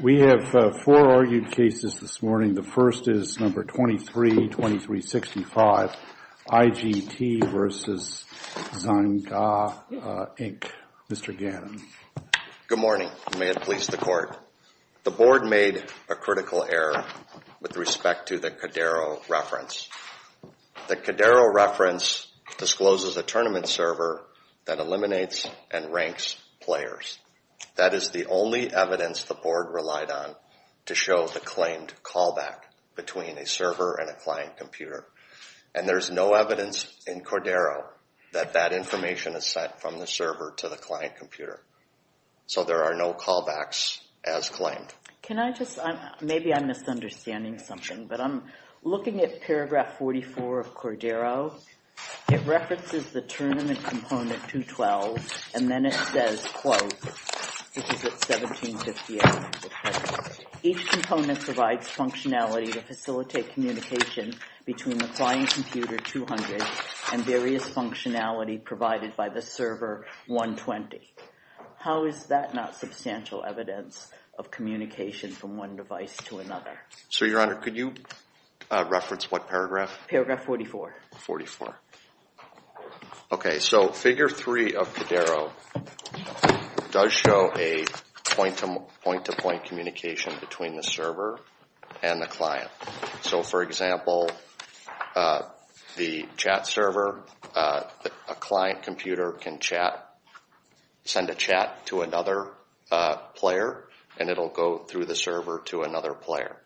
We have four argued cases this morning. The first is No. 23-2365, IGT v. Zynga Inc. Mr. Gannon. Good morning. May it please the Court. The Board made a critical error with respect to the Cadero reference. The Cadero reference discloses a tournament server that eliminates and ranks players. That is the only evidence the Board relied on to show the claimed callback between a server and a client computer. And there's no evidence in Cadero that that information is sent from the server to the client computer. So there are no callbacks as claimed. Can I just, maybe I'm misunderstanding something, but I'm looking at paragraph 44 of Cadero. It references the tournament component 212, and then it says, quote, which is at 1758. Each component provides functionality to facilitate communication between the client computer 200 and various functionality provided by the server 120. How is that not substantial evidence of communication from one device to another? Sir, Your Honor, could you reference what paragraph? Paragraph 44. 44. Okay, so figure 3 of Cadero does show a point-to-point communication between the server and the client. So, for example, the chat server, a client computer can chat, send a chat to another player, and it'll go through the server to another player.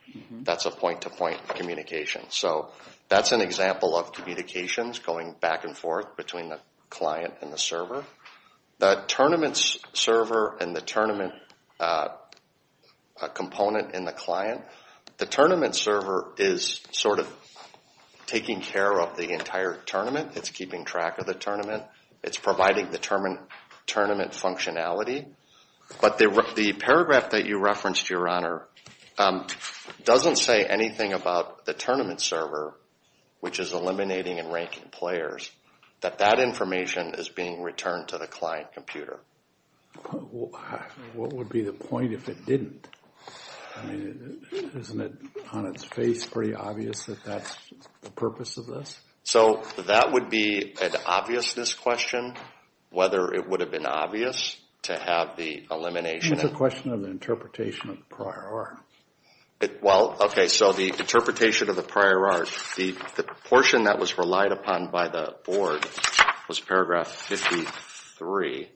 That's a point-to-point communication. So that's an example of communications going back and forth between the client and the server. The tournament server and the tournament component in the client, the tournament server is sort of taking care of the entire tournament. It's keeping track of the tournament. It's providing the tournament functionality. But the paragraph that you referenced, Your Honor, doesn't say anything about the tournament server, which is eliminating and ranking players, that that information is being returned to the client computer. What would be the point if it didn't? I mean, isn't it on its face pretty obvious that that's the purpose of this? So that would be an obviousness question, whether it would have been obvious to have the elimination. It's a question of the interpretation of the prior art. Well, okay, so the interpretation of the prior art. The portion that was relied upon by the board was paragraph 53,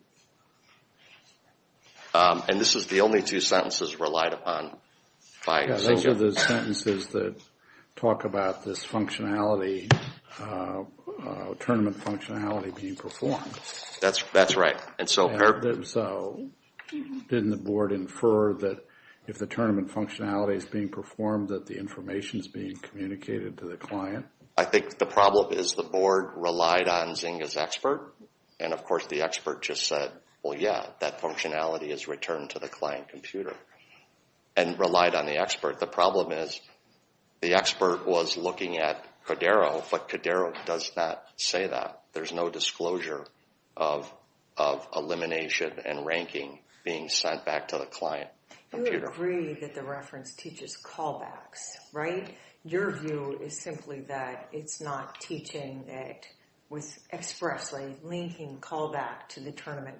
and this is the only two sentences relied upon. Those are the sentences that talk about this tournament functionality being performed. That's right. So didn't the board infer that if the tournament functionality is being performed, that the information is being communicated to the client? I think the problem is the board relied on Zynga's expert, and of course the expert just said, Well, yeah, that functionality is returned to the client computer, and relied on the expert. The problem is the expert was looking at Codero, but Codero does not say that. There's no disclosure of elimination and ranking being sent back to the client computer. You agree that the reference teaches callbacks, right? Your view is simply that it's not teaching it with expressly linking callback to the tournament.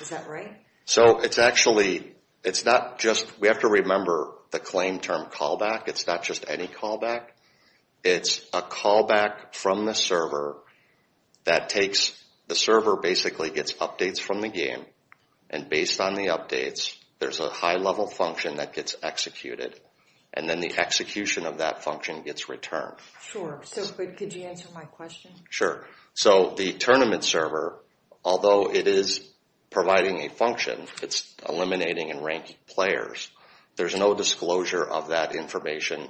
Is that right? So it's actually, it's not just, we have to remember the claim term callback. It's not just any callback. It's a callback from the server that takes, the server basically gets updates from the game, and based on the updates, there's a high-level function that gets executed, and then the execution of that function gets returned. Sure. So could you answer my question? Sure. So the tournament server, although it is providing a function, it's eliminating and ranking players, there's no disclosure of that information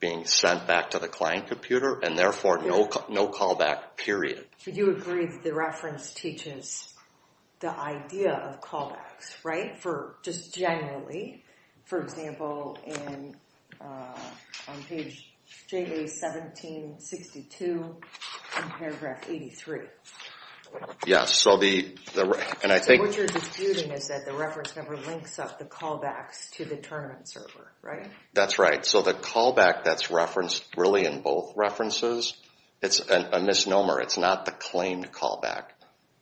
being sent back to the client computer, and therefore no callback, period. So you agree that the reference teaches the idea of callbacks, right? For just generally, for example, on page 1762 in paragraph 83. Yes, so the, and I think... So what you're disputing is that the reference never links up the callbacks to the tournament server, right? That's right. So the callback that's referenced really in both references, it's a misnomer. It's not the claimed callback.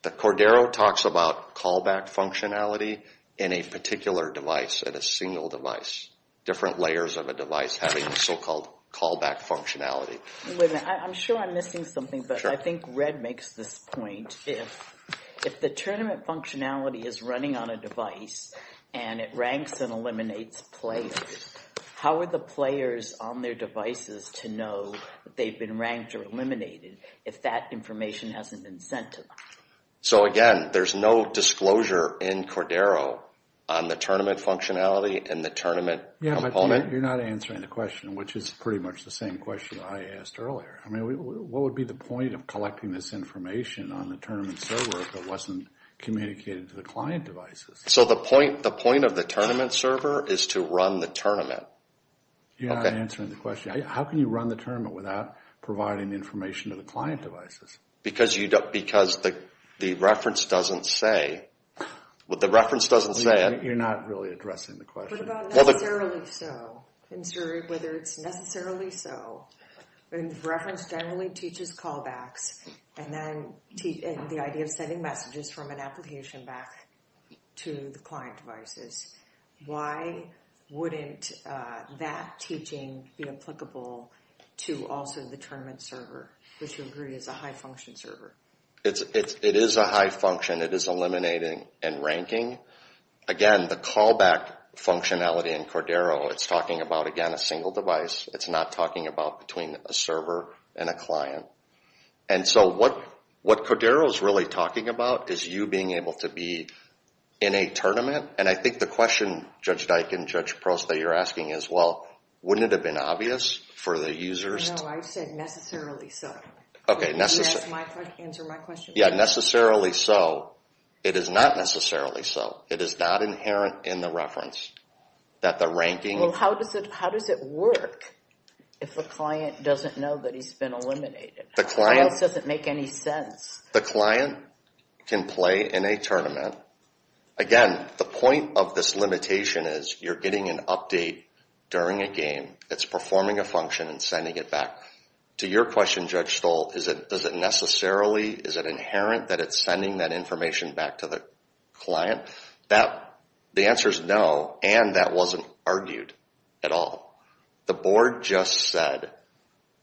The Cordero talks about callback functionality in a particular device, in a single device. Different layers of a device having so-called callback functionality. Wait a minute. I'm sure I'm missing something, but I think Red makes this point. If the tournament functionality is running on a device, and it ranks and eliminates players, how are the players on their devices to know that they've been ranked or eliminated if that information hasn't been sent to them? So again, there's no disclosure in Cordero on the tournament functionality and the tournament component. You're not answering the question, which is pretty much the same question I asked earlier. I mean, what would be the point of collecting this information on the tournament server if it wasn't communicated to the client devices? So the point of the tournament server is to run the tournament? You're not answering the question. How can you run the tournament without providing information to the client devices? Because the reference doesn't say it. You're not really addressing the question. What about necessarily so? Whether it's necessarily so. The reference generally teaches callbacks, and then the idea of sending messages from an application back to the client devices. Why wouldn't that teaching be applicable to also the tournament server, which we agree is a high-function server? It is a high function. It is eliminating and ranking. Again, the callback functionality in Cordero, it's talking about, again, a single device. It's not talking about between a server and a client. And so what Cordero is really talking about is you being able to be in a tournament. And I think the question, Judge Dike and Judge Prost, that you're asking is, well, wouldn't it have been obvious for the users? No, I said necessarily so. Answer my question. Yeah, necessarily so. It is not necessarily so. It is not inherent in the reference that the ranking… Well, how does it work if the client doesn't know that he's been eliminated? How else does it make any sense? The client can play in a tournament. Again, the point of this limitation is you're getting an update during a game. It's performing a function and sending it back. To your question, Judge Stoll, is it necessarily, is it inherent that it's sending that information back to the client? The answer is no, and that wasn't argued at all. The board just said,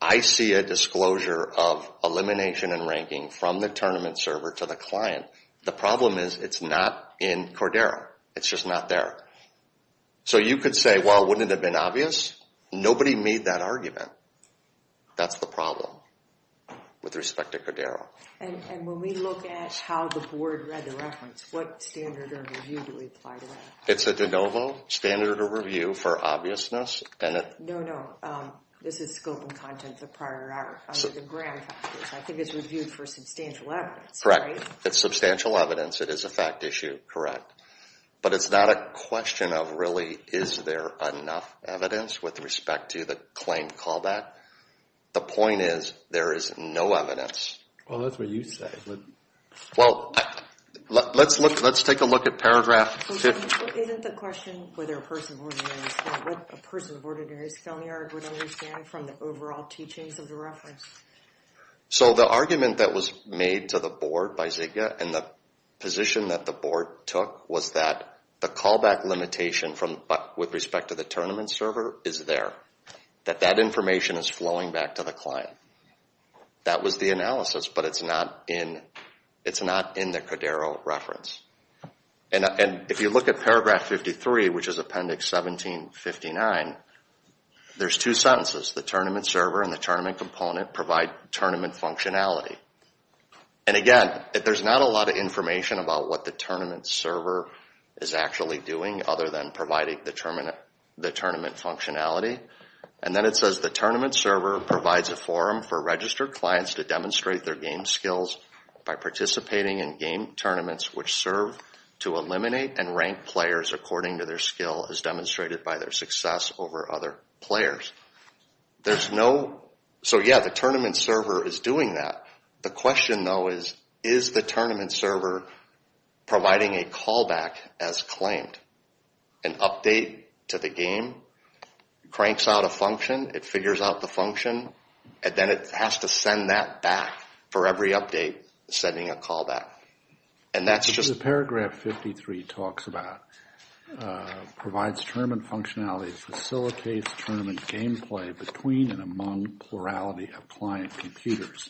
I see a disclosure of elimination and ranking from the tournament server to the client. The problem is it's not in Cordero. It's just not there. So you could say, well, wouldn't it have been obvious? Nobody made that argument. That's the problem with respect to Cordero. And when we look at how the board read the reference, what standard of review do we apply to that? It's a de novo standard of review for obviousness. No, no, this is scope and content of prior hour. I think it's reviewed for substantial evidence, right? Correct. It's substantial evidence. It is a fact issue, correct. But it's not a question of really is there enough evidence with respect to the claim callback. The point is there is no evidence. Well, that's what you say. Well, let's take a look at paragraph 50. Isn't the question whether a person of ordinary skill, what a person of ordinary skill would understand from the overall teachings of the reference? So the argument that was made to the board by Zika and the position that the board took was that the callback limitation with respect to the tournament server is there, that that information is flowing back to the client. That was the analysis, but it's not in the Codero reference. And if you look at paragraph 53, which is appendix 1759, there's two sentences, the tournament server and the tournament component provide tournament functionality. And again, there's not a lot of information about what the tournament server is actually doing other than providing the tournament functionality. And then it says the tournament server provides a forum for registered clients to demonstrate their game skills by participating in game tournaments, which serve to eliminate and rank players according to their skill as demonstrated by their success over other players. There's no, so yeah, the tournament server is doing that. The question though is, is the tournament server providing a callback as claimed, an update to the game? It cranks out a function, it figures out the function, and then it has to send that back for every update sending a callback. And that's just... The paragraph 53 talks about provides tournament functionality, facilitates tournament gameplay between and among plurality of client computers.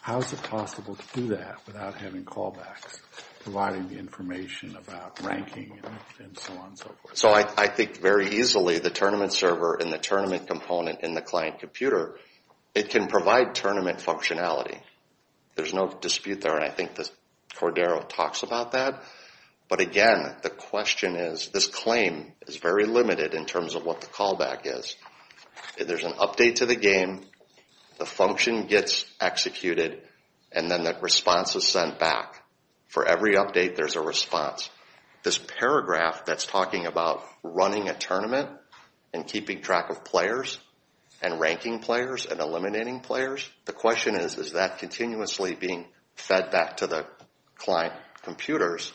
How is it possible to do that without having callbacks providing the information about ranking and so on and so forth? So I think very easily the tournament server and the tournament component in the client computer, it can provide tournament functionality. There's no dispute there, and I think Cordero talks about that. But again, the question is, this claim is very limited in terms of what the callback is. There's an update to the game, the function gets executed, and then that response is sent back. For every update, there's a response. This paragraph that's talking about running a tournament and keeping track of players and ranking players and eliminating players, the question is, is that continuously being fed back to the client computers?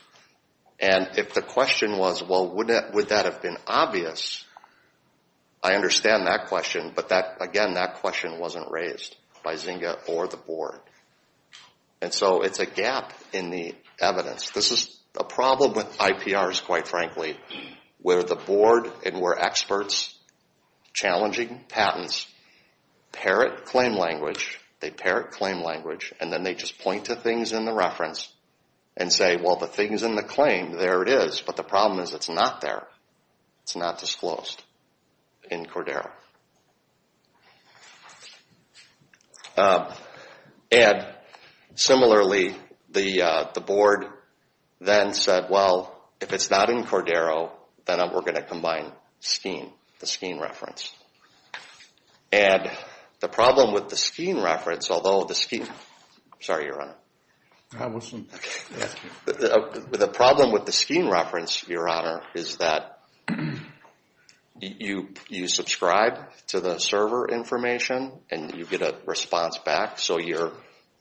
And if the question was, well, would that have been obvious? I understand that question, but again, that question wasn't raised by Zynga or the board. And so it's a gap in the evidence. This is a problem with IPRs, quite frankly, where the board and where experts challenging patents parrot claim language. They parrot claim language, and then they just point to things in the reference and say, well, the things in the claim, there it is. But the problem is it's not there. It's not disclosed in Cordero. And similarly, the board then said, well, if it's not in Cordero, then we're going to combine the Scheme reference. And the problem with the Scheme reference, although the Scheme – sorry, Your Honor. I'm listening. The problem with the Scheme reference, Your Honor, is that you subscribe to the server information and you get a response back. So you're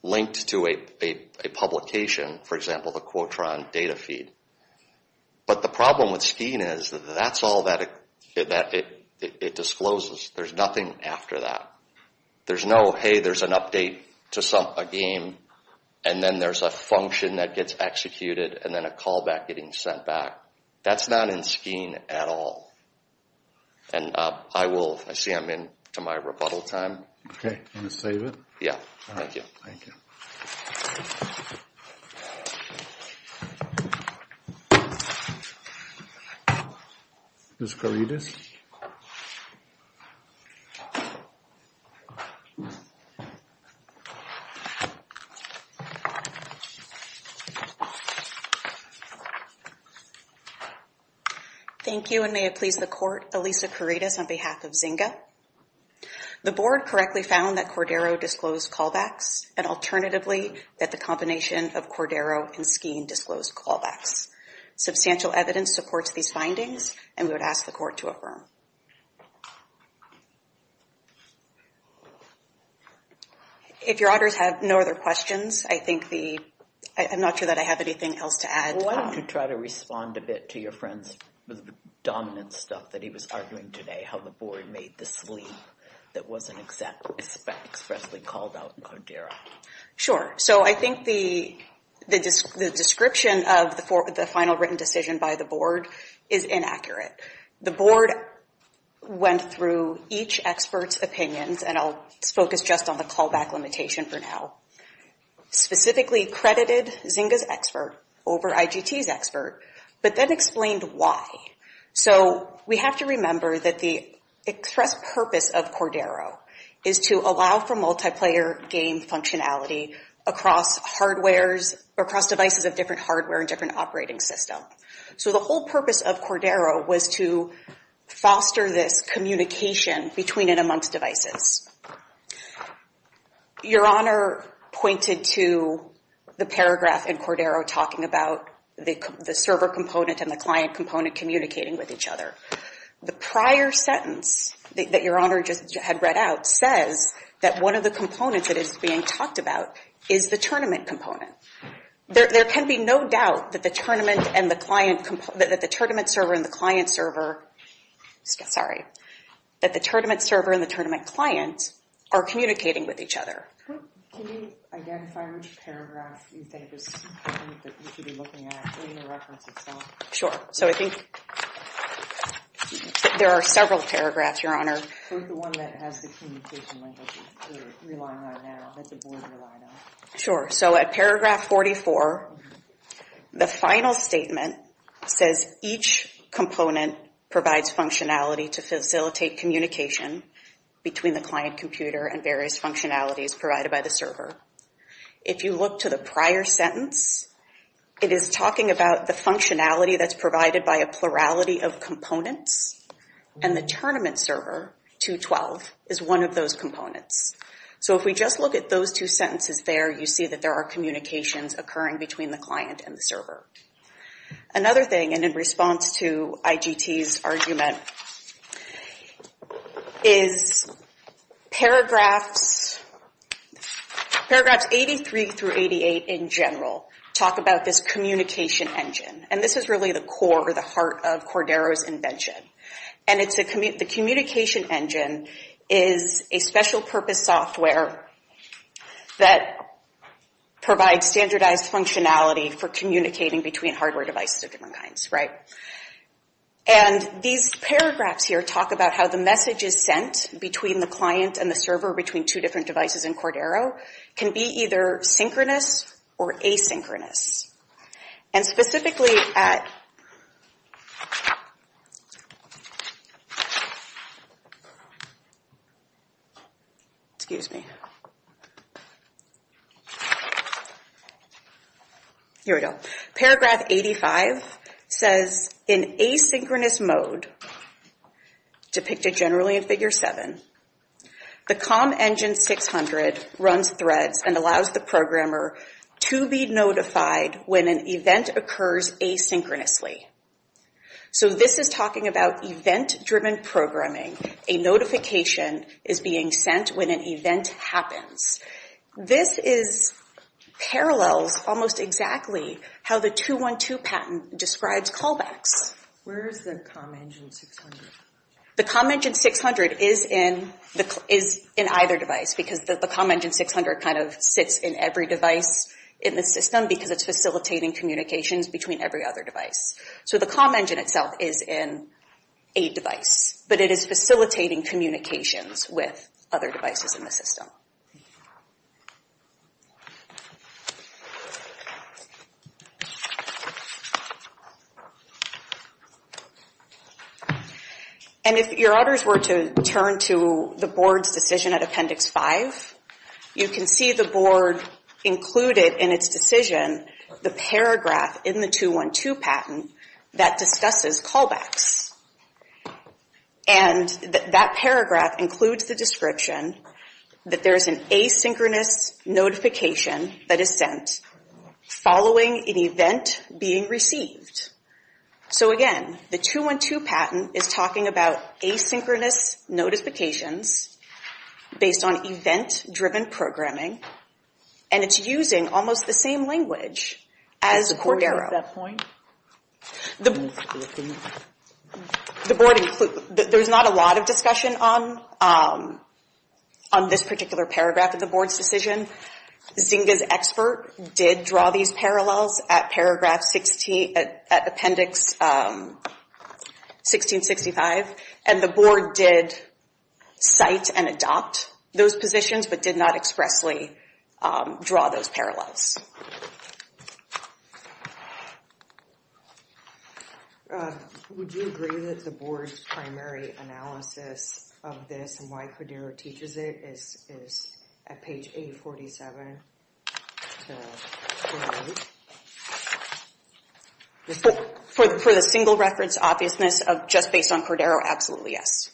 linked to a publication, for example, the Quotron data feed. But the problem with Scheme is that's all that it discloses. There's nothing after that. There's no, hey, there's an update to a game, and then there's a function that gets executed, and then a callback getting sent back. That's not in Scheme at all. And I will – I see I'm in to my rebuttal time. Okay. Want to save it? Yeah. All right. Thank you. Thank you. Ms. Corrides. Thank you. Thank you, and may it please the Court, Elisa Corrides on behalf of Zynga. The Board correctly found that Cordero disclosed callbacks, and alternatively that the combination of Cordero and Scheme disclosed callbacks. Substantial evidence supports these findings, and we would ask the Court to affirm. If your auditors have no other questions, I think the – I'm not sure that I have anything else to add. Why don't you try to respond a bit to your friend's dominant stuff that he was arguing today, how the Board made this leap that wasn't expressly called out in Cordero. Sure. So I think the description of the final written decision by the Board is inaccurate. The Board went through each expert's opinions, and I'll focus just on the callback limitation for now, specifically credited Zynga's expert over IGT's expert, but then explained why. So we have to remember that the express purpose of Cordero is to allow for multiplayer game functionality across devices of different hardware and different operating systems. So the whole purpose of Cordero was to foster this communication between and amongst devices. Your Honor pointed to the paragraph in Cordero talking about the server component and the client component communicating with each other. The prior sentence that Your Honor just had read out says that one of the components that is being talked about is the tournament component. There can be no doubt that the tournament and the client – that the tournament server and the client server – sorry, that the tournament server and the tournament client are communicating with each other. Can you identify which paragraph you think is important that we should be looking at in the reference itself? So I think there are several paragraphs, Your Honor. The one that has the communication language that you're relying on now, that the Board relied on. Sure. So at paragraph 44, the final statement says each component provides functionality to facilitate communication between the client computer and various functionalities provided by the server. If you look to the prior sentence, it is talking about the functionality that's provided by a plurality of components and the tournament server, 212, is one of those components. So if we just look at those two sentences there, you see that there are communications occurring between the client and the server. Another thing, and in response to IGT's argument, is paragraphs 83 through 88 in general talk about this communication engine. And this is really the core or the heart of Cordero's invention. And the communication engine is a special purpose software that provides standardized functionality for communicating between hardware devices of different kinds, right? And these paragraphs here talk about how the messages sent between the client and the server between two different devices in Cordero can be either synchronous or asynchronous. And specifically at... Excuse me. Here we go. Paragraph 85 says in asynchronous mode, depicted generally in Figure 7, the COM Engine 600 runs threads and allows the programmer to be notified when an event occurs asynchronously. So this is talking about event-driven programming. A notification is being sent when an event happens. This parallels almost exactly how the 212 patent describes callbacks. Where is the COM Engine 600? The COM Engine 600 is in either device, because the COM Engine 600 kind of sits in every device in the system because it's facilitating communications between every other device. So the COM Engine itself is in a device, but it is facilitating communications with other devices in the system. And if your auditors were to turn to the board's decision at Appendix 5, you can see the board included in its decision the paragraph in the 212 patent that discusses callbacks. And that paragraph includes the description that there is an asynchronous notification that is sent following an event being received. So again, the 212 patent is talking about asynchronous notifications based on event-driven programming, and it's using almost the same language as Cordero. There's not a lot of discussion on this particular paragraph of the board's decision. Zynga's expert did draw these parallels at Appendix 1665, and the board did cite and adopt those positions but did not expressly draw those parallels. Would you agree that the board's primary analysis of this and why Cordero teaches it is at page 847? For the single-reference obviousness of just based on Cordero, absolutely yes.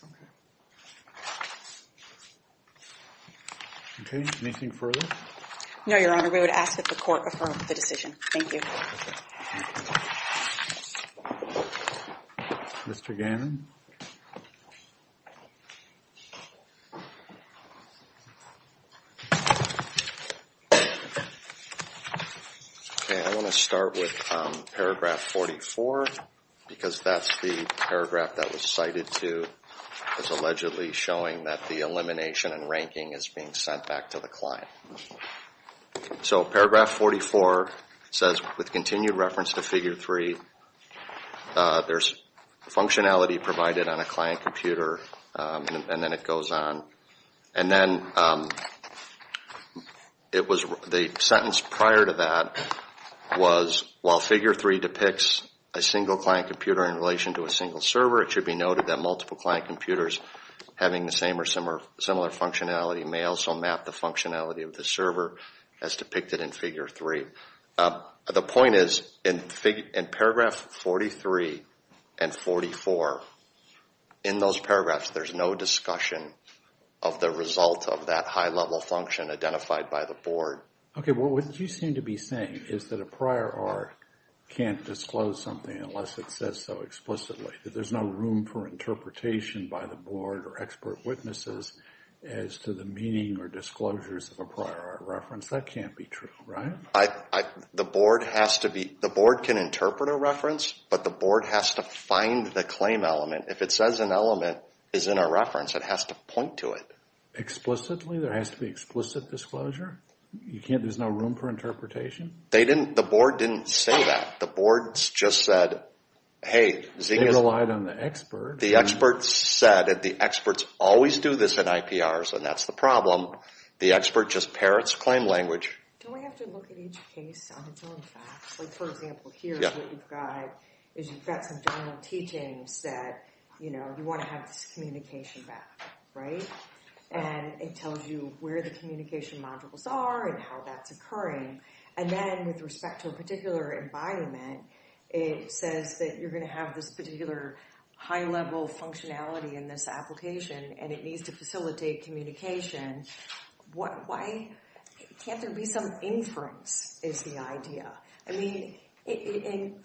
Okay. Anything further? No, Your Honor. We would ask that the court affirm the decision. Thank you. Mr. Gannon? Okay, I want to start with paragraph 44 because that's the paragraph that was cited to as allegedly showing that the elimination and ranking is being sent back to the client. So paragraph 44 says, with continued reference to Figure 3, there's functionality provided on a client computer, and then it goes on. And then the sentence prior to that was, while Figure 3 depicts a single client computer in relation to a single server, it should be noted that multiple client computers having the same or similar functionality may also map the functionality of the server as depicted in Figure 3. The point is, in paragraph 43 and 44, in those paragraphs, there's no discussion of the result of that high-level function identified by the board. Okay, well, what you seem to be saying is that a prior art can't disclose something unless it says so explicitly. That there's no room for interpretation by the board or expert witnesses as to the meaning or disclosures of a prior art reference. That can't be true, right? The board can interpret a reference, but the board has to find the claim element. If it says an element is in a reference, it has to point to it. Explicitly? There has to be explicit disclosure? There's no room for interpretation? They didn't, the board didn't say that. The board just said, hey, They relied on the expert. The expert said, and the experts always do this in IPRs, and that's the problem. The expert just parrots claim language. Don't we have to look at each case on its own facts? Like, for example, here's what you've got. You've got some general teachings that, you know, you want to have this communication back, right? And it tells you where the communication modules are and how that's occurring. And then with respect to a particular environment, it says that you're going to have this particular high-level functionality in this application, and it needs to facilitate communication. Why can't there be some inference, is the idea. I mean,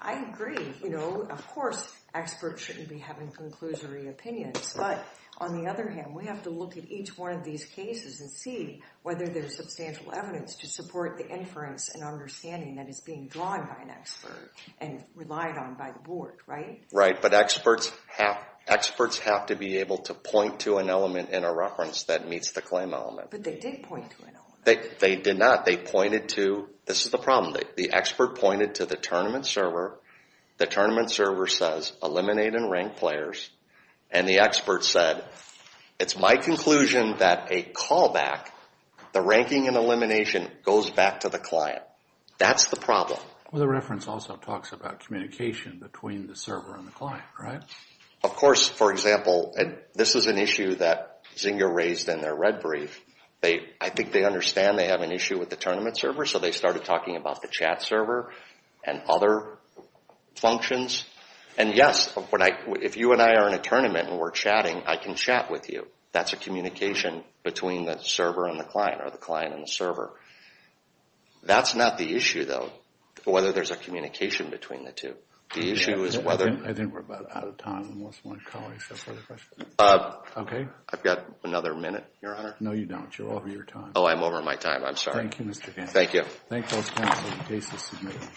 I agree, you know, of course experts shouldn't be having conclusory opinions, but on the other hand, we have to look at each one of these cases and see whether there's substantial evidence to support the inference and understanding that is being drawn by an expert and relied on by the board, right? Right, but experts have to be able to point to an element in a reference that meets the claim element. But they did point to an element. They did not. They pointed to, this is the problem, the expert pointed to the tournament server, the tournament server says eliminate and rank players, and the expert said, it's my conclusion that a callback, the ranking and elimination goes back to the client. That's the problem. Well, the reference also talks about communication between the server and the client, right? Of course, for example, this is an issue that Zynga raised in their red brief. I think they understand they have an issue with the tournament server, so they started talking about the chat server and other functions. And yes, if you and I are in a tournament and we're chatting, I can chat with you. That's a communication between the server and the client or the client and the server. That's not the issue though, whether there's a communication between the two. The issue is whether... I think we're about out of time. Unless my colleagues have further questions. I've got another minute, Your Honor. No, you don't. You're over your time. Oh, I'm over my time. I'm sorry. Thank you. Thank you. Thank you.